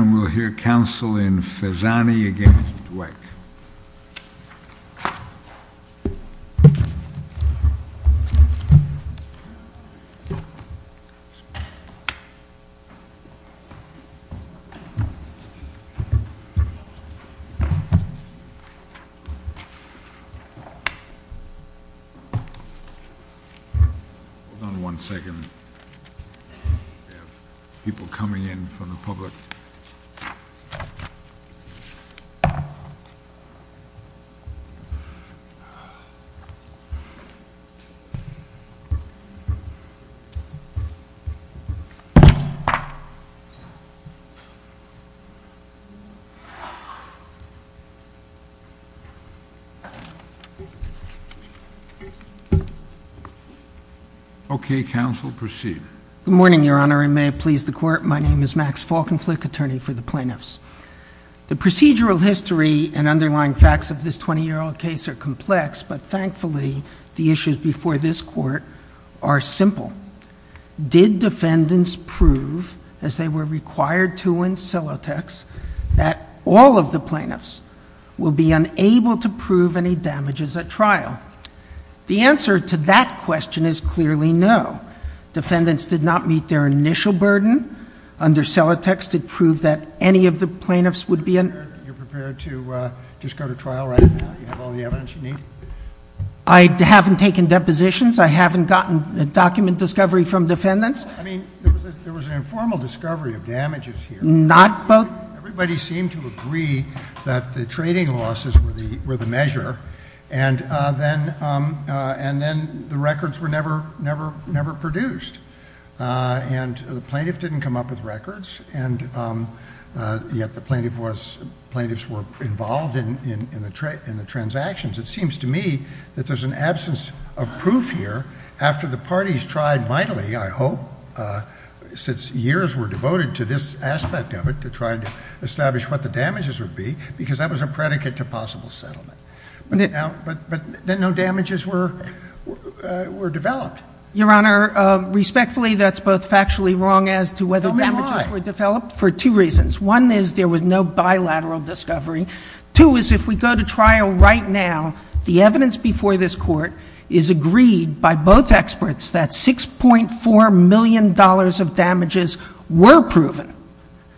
and we'll hear counsel in Fezzani v. Dweck. Okay, counsel, proceed. Good morning, Your Honor, and may it please the Court, my name is Max Falkenflik, attorney for the plaintiffs. The procedural history and underlying facts of this 20-year-old case are complex, but thankfully the issues before this Court are simple. Did defendants prove, as they were required to in Silotex, that all of the plaintiffs will be unable to prove any damages at trial? No. The answer to that question is clearly no. Defendants did not meet their initial burden. Under Silotex, it proved that any of the plaintiffs would be un- Are you prepared to just go to trial right now? Do you have all the evidence you need? I haven't taken depositions. I haven't gotten a document discovery from defendants. I mean, there was an informal discovery of damages here. Not both. Everybody seemed to agree that the trading losses were the measure, and then the records were never produced. And the plaintiff didn't come up with records, and yet the plaintiffs were involved in the transactions. It seems to me that there's an absence of proof here after the parties tried mightily, I hope, since years were devoted to this aspect of it, to try and establish what the damages would be, because that was a predicate to possible settlement. But then no damages were developed. Your Honor, respectfully, that's both factually wrong as to whether damages were developed. Tell me why. For two reasons. One is there was no bilateral discovery. Two is if we go to trial right now, the evidence before this Court is agreed by both experts that $6.4 million of damages were proven.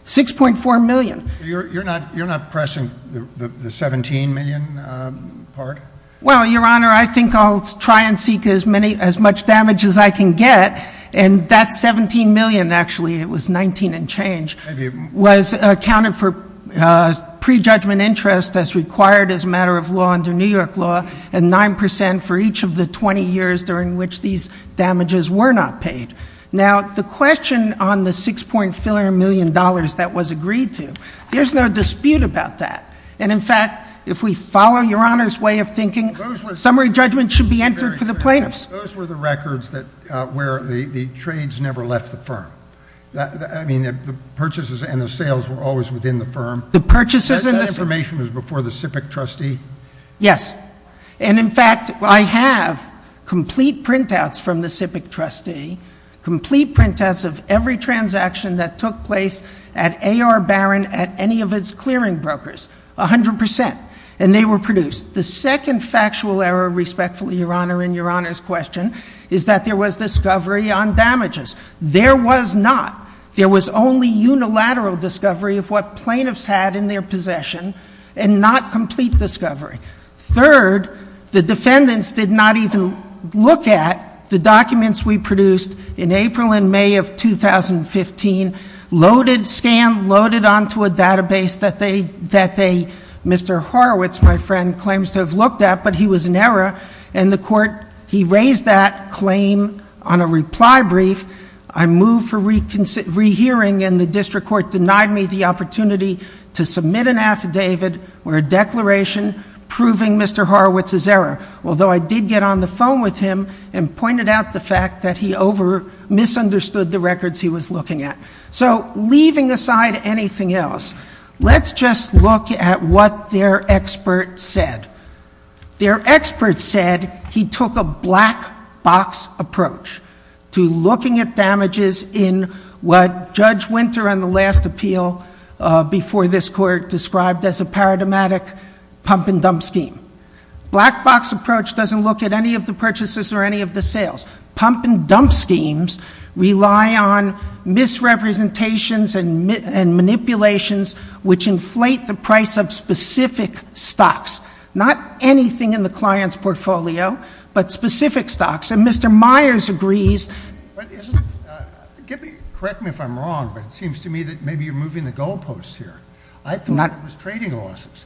$6.4 million. You're not pressing the $17 million part? Well, Your Honor, I think I'll try and seek as much damage as I can get, and that $17 million actually, it was $19 and change, was accounted for prejudgment interest as required as a matter of law under New York law, and 9% for each of the 20 years during which these damages were not paid. Now, the question on the $6.4 million that was agreed to, there's no dispute about that. And, in fact, if we follow Your Honor's way of thinking, summary judgment should be entered for the plaintiffs. Those were the records where the trades never left the firm. I mean, the purchases and the sales were always within the firm. The purchases and the sales. That information was before the SIPC trustee? Yes. And, in fact, I have complete printouts from the SIPC trustee, complete printouts of every transaction that took place at A.R. Barron at any of its clearing brokers, 100%. And they were produced. The second factual error, respectfully, Your Honor, in Your Honor's question, is that there was discovery on damages. There was not. And not complete discovery. Third, the defendants did not even look at the documents we produced in April and May of 2015, loaded, scanned, loaded onto a database that they, Mr. Horowitz, my friend, claims to have looked at, but he was in error. And the court, he raised that claim on a reply brief. I moved for rehearing, and the district court denied me the opportunity to submit an affidavit or a declaration proving Mr. Horowitz's error, although I did get on the phone with him and pointed out the fact that he over-misunderstood the records he was looking at. So, leaving aside anything else, let's just look at what their expert said. Their expert said he took a black-box approach to looking at damages in what Judge Winter, on the last appeal before this court, described as a paradigmatic pump-and-dump scheme. Black-box approach doesn't look at any of the purchases or any of the sales. Pump-and-dump schemes rely on misrepresentations and manipulations which inflate the price of specific stocks, not anything in the client's portfolio, but specific stocks. And Mr. Myers agrees. But, correct me if I'm wrong, but it seems to me that maybe you're moving the goalposts here. I thought it was trading losses.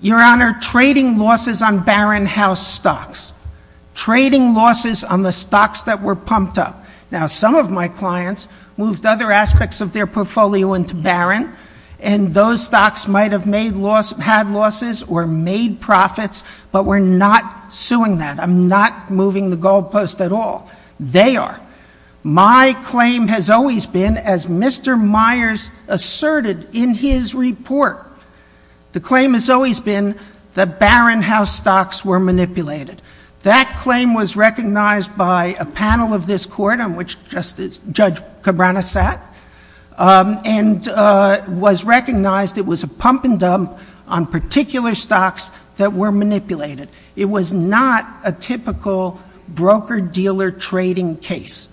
Your Honor, trading losses on Barron House stocks. Trading losses on the stocks that were pumped up. Now, some of my clients moved other aspects of their portfolio into Barron, and those stocks might have had losses or made profits, but we're not suing that. I'm not moving the goalposts at all. They are. My claim has always been, as Mr. Myers asserted in his report, the claim has always been that Barron House stocks were manipulated. That claim was recognized by a panel of this court on which Judge Cabrera sat, and was recognized it was a pump-and-dump on particular stocks that were manipulated. It was not a typical broker-dealer trading case.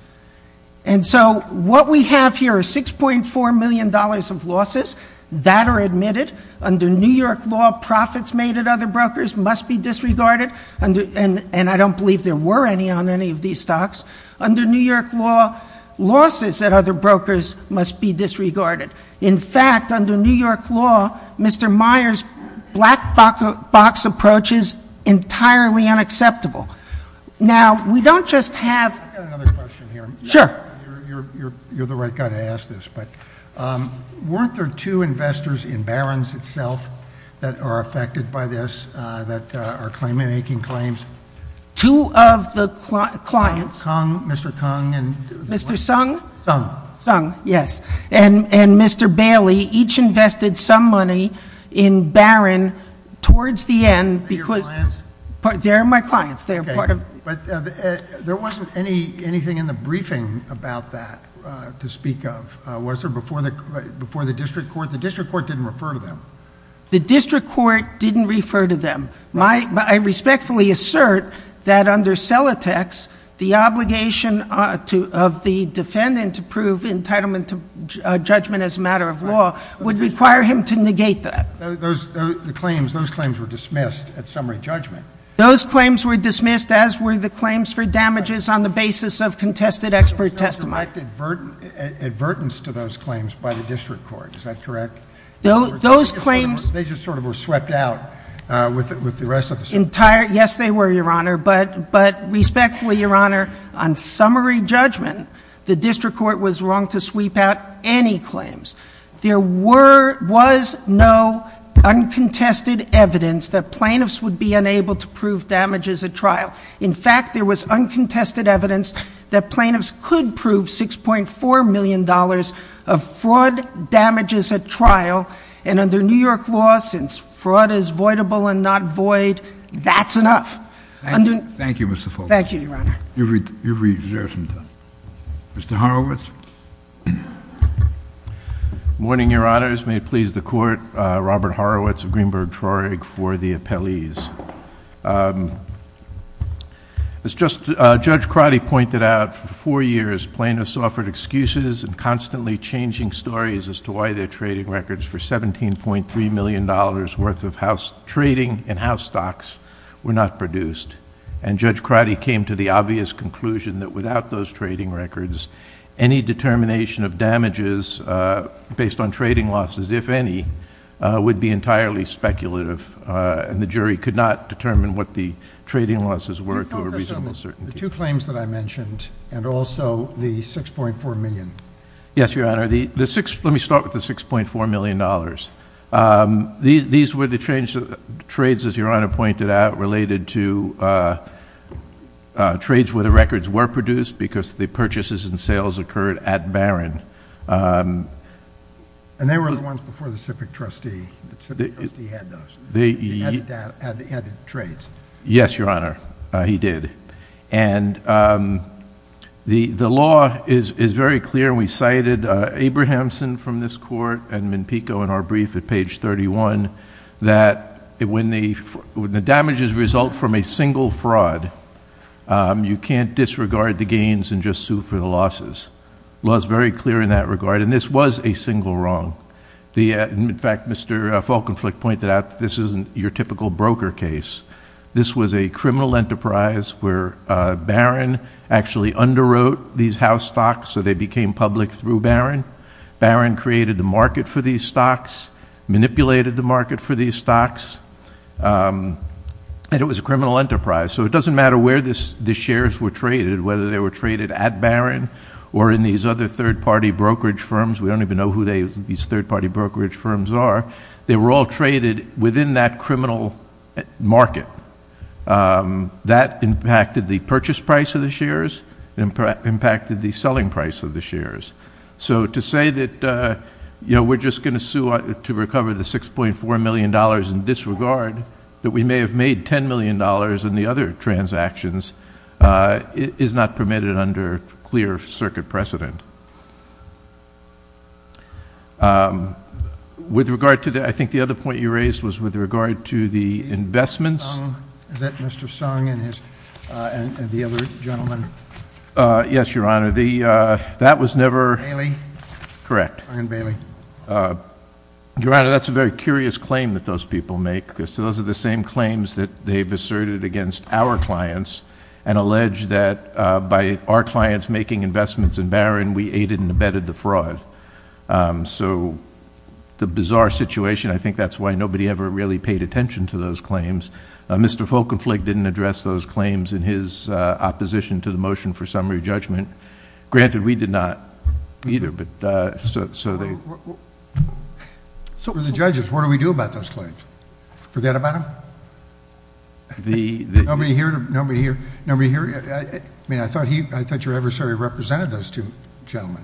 And so what we have here are $6.4 million of losses. That are admitted. Under New York law, profits made at other brokers must be disregarded, and I don't believe there were any on any of these stocks. Under New York law, losses at other brokers must be disregarded. In fact, under New York law, Mr. Myers' black-box approach is entirely unacceptable. Now, we don't just have- I've got another question here. Sure. You're the right guy to ask this, but weren't there two investors in Barron's itself that are affected by this, that are claim-making claims? Two of the clients- Mr. Cong, Mr. Cong, and- Mr. Sung? Sung. Sung, yes. And Mr. Bailey, each invested some money in Barron towards the end because- Are they your clients? They are my clients. They are part of- Okay. But there wasn't anything in the briefing about that to speak of, was there, before the district court? The district court didn't refer to them. The district court didn't refer to them. I respectfully assert that under Celotex, the obligation of the defendant to prove entitlement to judgment as a matter of law would require him to negate that. Those claims were dismissed at summary judgment. Those claims were dismissed, as were the claims for damages on the basis of contested expert testimony. There was no direct advertence to those claims by the district court. Is that correct? Those claims- Yes, they were, Your Honor. But respectfully, Your Honor, on summary judgment, the district court was wrong to sweep out any claims. There was no uncontested evidence that plaintiffs would be unable to prove damages at trial. In fact, there was uncontested evidence that plaintiffs could prove $6.4 million of fraud damages at trial. And under New York law, since fraud is voidable and not void, that's enough. Thank you, Mr. Fogarty. Thank you, Your Honor. You've reserved some time. Mr. Horowitz. Good morning, Your Honors. May it please the Court, Robert Horowitz of Greenberg Trorig for the appellees. As Judge Crotty pointed out, for four years, plaintiffs offered excuses and constantly changing stories as to why their trading records for $17.3 million worth of trading in house stocks were not produced. And Judge Crotty came to the obvious conclusion that without those trading records, any determination of damages based on trading losses, if any, would be entirely speculative, and the jury could not determine what the trading losses were to a reasonable certainty. The two claims that I mentioned, and also the $6.4 million. Yes, Your Honor. Let me start with the $6.4 million. These were the trades, as Your Honor pointed out, related to trades where the records were produced because the purchases and sales occurred at Barron. And they were the ones before the civic trustee. The civic trustee had those. He added trades. Yes, Your Honor, he did. And the law is very clear, and we cited Abrahamson from this court and Mimpico in our brief at page 31, that when the damages result from a single fraud, you can't disregard the gains and just sue for the losses. The law is very clear in that regard, and this was a single wrong. In fact, Mr. Falkenfleck pointed out that this isn't your typical broker case. This was a criminal enterprise where Barron actually underwrote these house stocks, so they became public through Barron. Barron created the market for these stocks, manipulated the market for these stocks, and it was a criminal enterprise. So it doesn't matter where the shares were traded, whether they were traded at Barron or in these other third-party brokerage firms. We don't even know who these third-party brokerage firms are. They were all traded within that criminal market. That impacted the purchase price of the shares. It impacted the selling price of the shares. So to say that we're just going to sue to recover the $6.4 million in disregard, that we may have made $10 million in the other transactions, is not permitted under clear circuit precedent. I think the other point you raised was with regard to the investments. Is that Mr. Sung and the other gentleman? Yes, Your Honor. Bailey? Correct. Sung and Bailey. Your Honor, that's a very curious claim that those people make, because those are the same claims that they've asserted against our clients and alleged that by our clients making investments in Barron, we aided and abetted the fraud. So the bizarre situation, I think that's why nobody ever really paid attention to those claims. Mr. Folkenflik didn't address those claims in his opposition to the motion for summary judgment. Granted, we did not either, but so they... For the judges, what do we do about those claims? Forget about them? Nobody here? I mean, I thought your adversary represented those two gentlemen.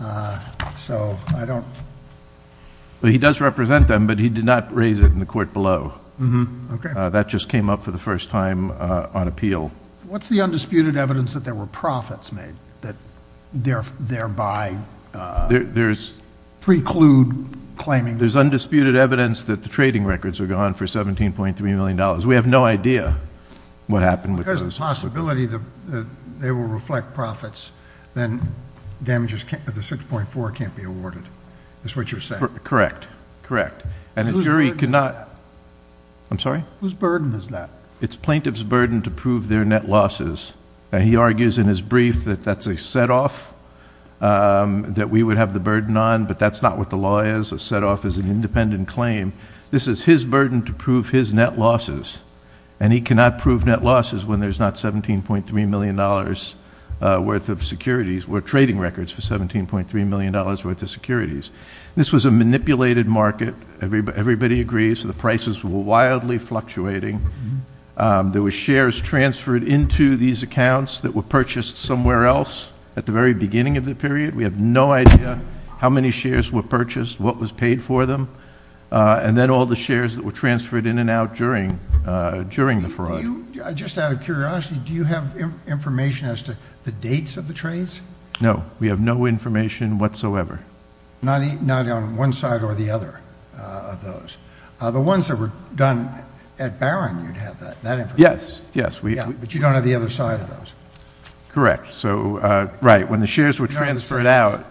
So I don't... He does represent them, but he did not raise it in the court below. That just came up for the first time on appeal. What's the undisputed evidence that there were profits made that thereby preclude claiming? There's undisputed evidence that the trading records are gone for $17.3 million. We have no idea what happened with those... Because of the possibility that they will reflect profits, then damages of the 6.4 can't be awarded, is what you're saying? Correct, correct. And a jury cannot... Whose burden is that? I'm sorry? Whose burden is that? It's plaintiff's burden to prove their net losses. He argues in his brief that that's a set-off that we would have the burden on, but that's not what the law is. It's a set-off as an independent claim. This is his burden to prove his net losses. And he cannot prove net losses when there's not $17.3 million worth of securities or trading records for $17.3 million worth of securities. This was a manipulated market. Everybody agrees that the prices were wildly fluctuating. There were shares transferred into these accounts that were purchased somewhere else at the very beginning of the period. We have no idea how many shares were purchased, what was paid for them, and then all the shares that were transferred in and out during the fraud. Just out of curiosity, do you have information as to the dates of the trades? No. We have no information whatsoever. Not on one side or the other of those. The ones that were done at Barron, you'd have that information? Yes, yes. But you don't have the other side of those? Correct. Right, when the shares were transferred out.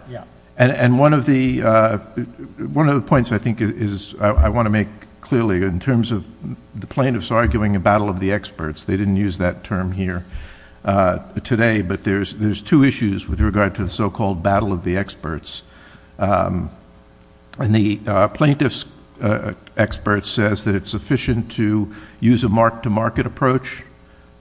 And one of the points I think is I want to make clearly in terms of the plaintiffs arguing a battle of the experts. They didn't use that term here today, but there's two issues with regard to the so-called battle of the experts. And the plaintiff's expert says that it's sufficient to use a mark-to-market approach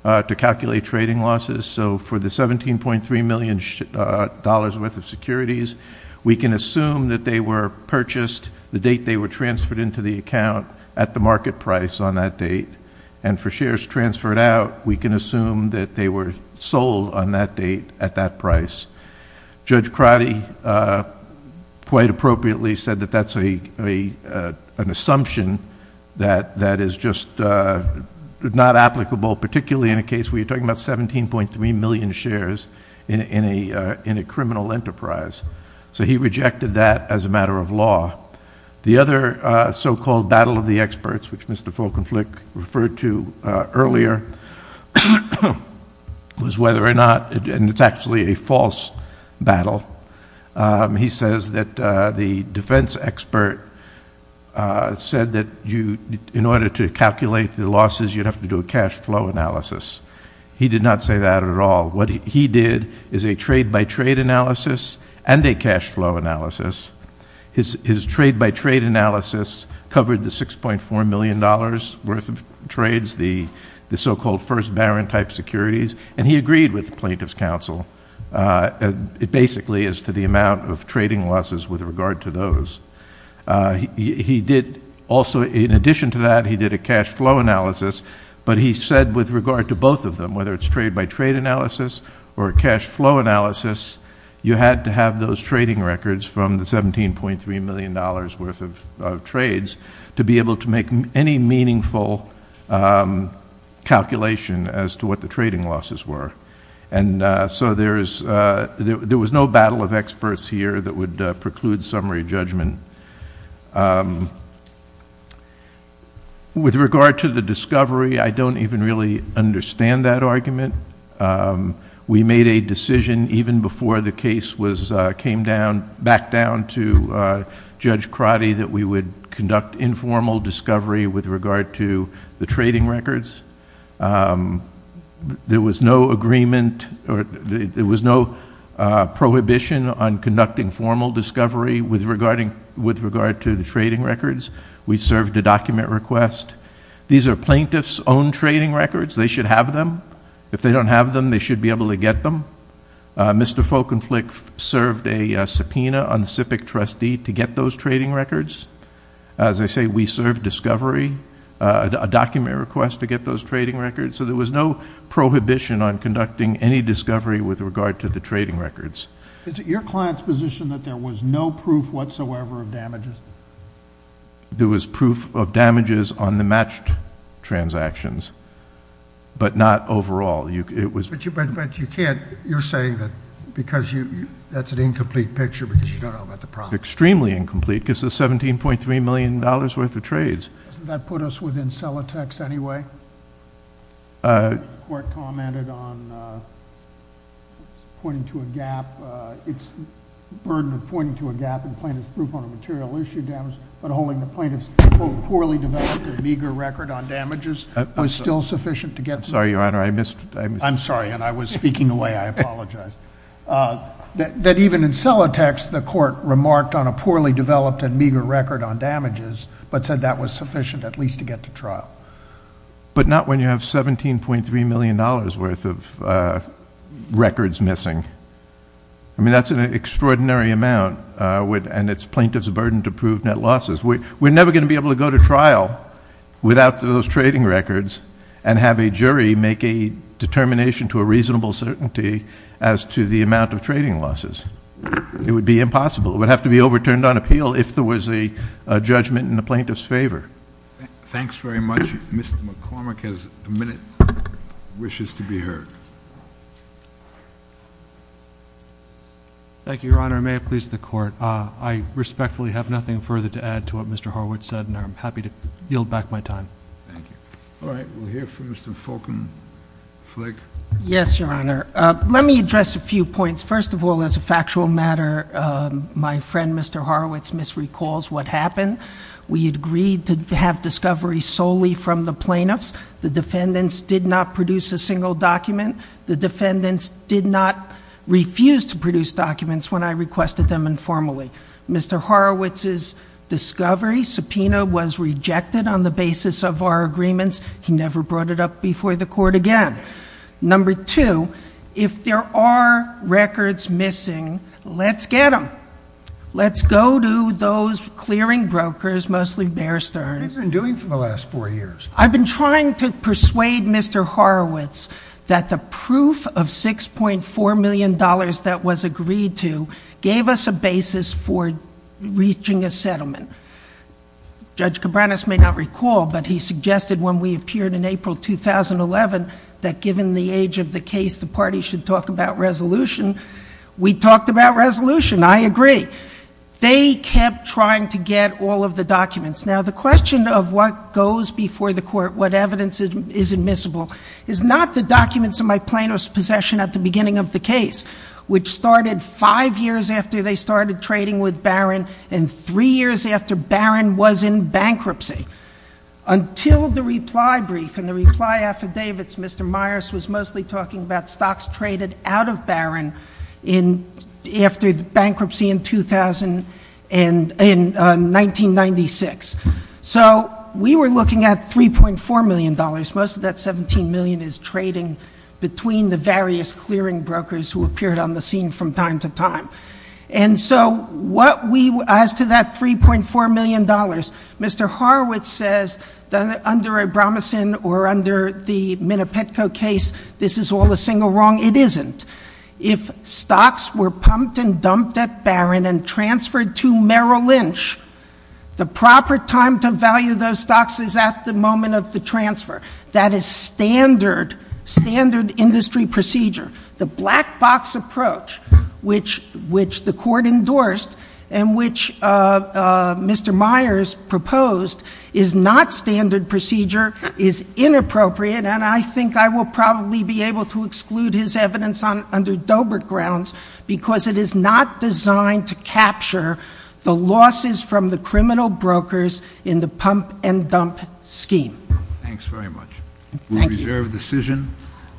to calculate trading losses. So for the $17.3 million worth of securities, we can assume that they were purchased the date they were transferred into the account at the market price on that date. And for shares transferred out, we can assume that they were sold on that date at that price. Judge Crotty quite appropriately said that that's an assumption that is just not applicable, particularly in a case where you're talking about 17.3 million shares in a criminal enterprise. So he rejected that as a matter of law. The other so-called battle of the experts, which Mr. Folkenflik referred to earlier, was whether or not, and it's actually a false battle. He says that the defense expert said that in order to calculate the losses, you'd have to do a cash flow analysis. He did not say that at all. What he did is a trade-by-trade analysis and a cash flow analysis. His trade-by-trade analysis covered the $6.4 million worth of trades, the so-called first baron-type securities, and he agreed with the plaintiff's counsel. It basically is to the amount of trading losses with regard to those. He did also, in addition to that, he did a cash flow analysis, but he said with regard to both of them, whether it's trade-by-trade analysis or cash flow analysis, you had to have those trading records from the $17.3 million worth of trades to be able to make any meaningful calculation as to what the trading losses were. And so there was no battle of experts here that would preclude summary judgment. With regard to the discovery, I don't even really understand that argument. We made a decision even before the case came back down to Judge Crotty that we would conduct informal discovery with regard to the trading records. There was no agreement or there was no prohibition on conducting formal discovery with regard to the trading records. We served a document request. These are plaintiff's own trading records. They should have them. If they don't have them, they should be able to get them. Mr. Folkenflik served a subpoena on the SIPC trustee to get those trading records. As I say, we served discovery, a document request to get those trading records. So there was no prohibition on conducting any discovery with regard to the trading records. Is it your client's position that there was no proof whatsoever of damages? There was proof of damages on the matched transactions, but not overall. But you can't—you're saying that because that's an incomplete picture because you don't know about the problem. It's extremely incomplete because it's $17.3 million worth of trades. Doesn't that put us within Celotex anyway? The court commented on pointing to a gap. It's a burden of pointing to a gap in plaintiff's proof on a material issue damage, but holding the plaintiff's quote poorly developed or meager record on damages was still sufficient to get— I'm sorry, Your Honor, I missed— I'm sorry, and I was speaking away. I apologize. That even in Celotex, the court remarked on a poorly developed and meager record on damages but said that was sufficient at least to get to trial. But not when you have $17.3 million worth of records missing. I mean, that's an extraordinary amount, and it's plaintiff's burden to prove net losses. We're never going to be able to go to trial without those trading records and have a jury make a determination to a reasonable certainty as to the amount of trading losses. It would be impossible. It would have to be overturned on appeal if there was a judgment in the plaintiff's favor. Thanks very much. Mr. McCormick has a minute, wishes to be heard. Thank you, Your Honor. May it please the court. I respectfully have nothing further to add to what Mr. Horwitz said, and I'm happy to yield back my time. Thank you. All right, we'll hear from Mr. Fulkenflik. Yes, Your Honor. Let me address a few points. First of all, as a factual matter, my friend Mr. Horwitz misrecalls what happened. We agreed to have discovery solely from the plaintiffs. The defendants did not produce a single document. The defendants did not refuse to produce documents when I requested them informally. Mr. Horwitz's discovery subpoena was rejected on the basis of our agreements. He never brought it up before the court again. Number two, if there are records missing, let's get them. Let's go to those clearing brokers, mostly Bear Stearns. What have you been doing for the last four years? I've been trying to persuade Mr. Horwitz that the proof of $6.4 million that was agreed to gave us a basis for reaching a settlement. Judge Cabranes may not recall, but he suggested when we appeared in April 2011 that given the age of the case, the party should talk about resolution. We talked about resolution. I agree. They kept trying to get all of the documents. Now, the question of what goes before the court, what evidence is admissible, is not the documents in my plaintiff's possession at the beginning of the case, which started five years after they started trading with Barron and three years after Barron was in bankruptcy. Until the reply brief and the reply affidavits, Mr. Myers was mostly talking about stocks traded out of Barron after bankruptcy in 1996. So we were looking at $3.4 million. Most of that $17 million is trading between the various clearing brokers who appeared on the scene from time to time. And so as to that $3.4 million, Mr. Horowitz says that under a Bromison or under the Minapetco case, this is all a single wrong. It isn't. If stocks were pumped and dumped at Barron and transferred to Merrill Lynch, the proper time to value those stocks is at the moment of the transfer. That is standard, standard industry procedure. The black box approach, which the court endorsed and which Mr. Myers proposed, is not standard procedure, is inappropriate, and I think I will probably be able to exclude his evidence under Dobert grounds because it is not designed to capture the losses from the criminal brokers in the pump and dump scheme. Thanks very much. Thank you. We reserve the decision.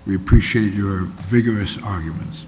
We appreciate your vigorous arguments.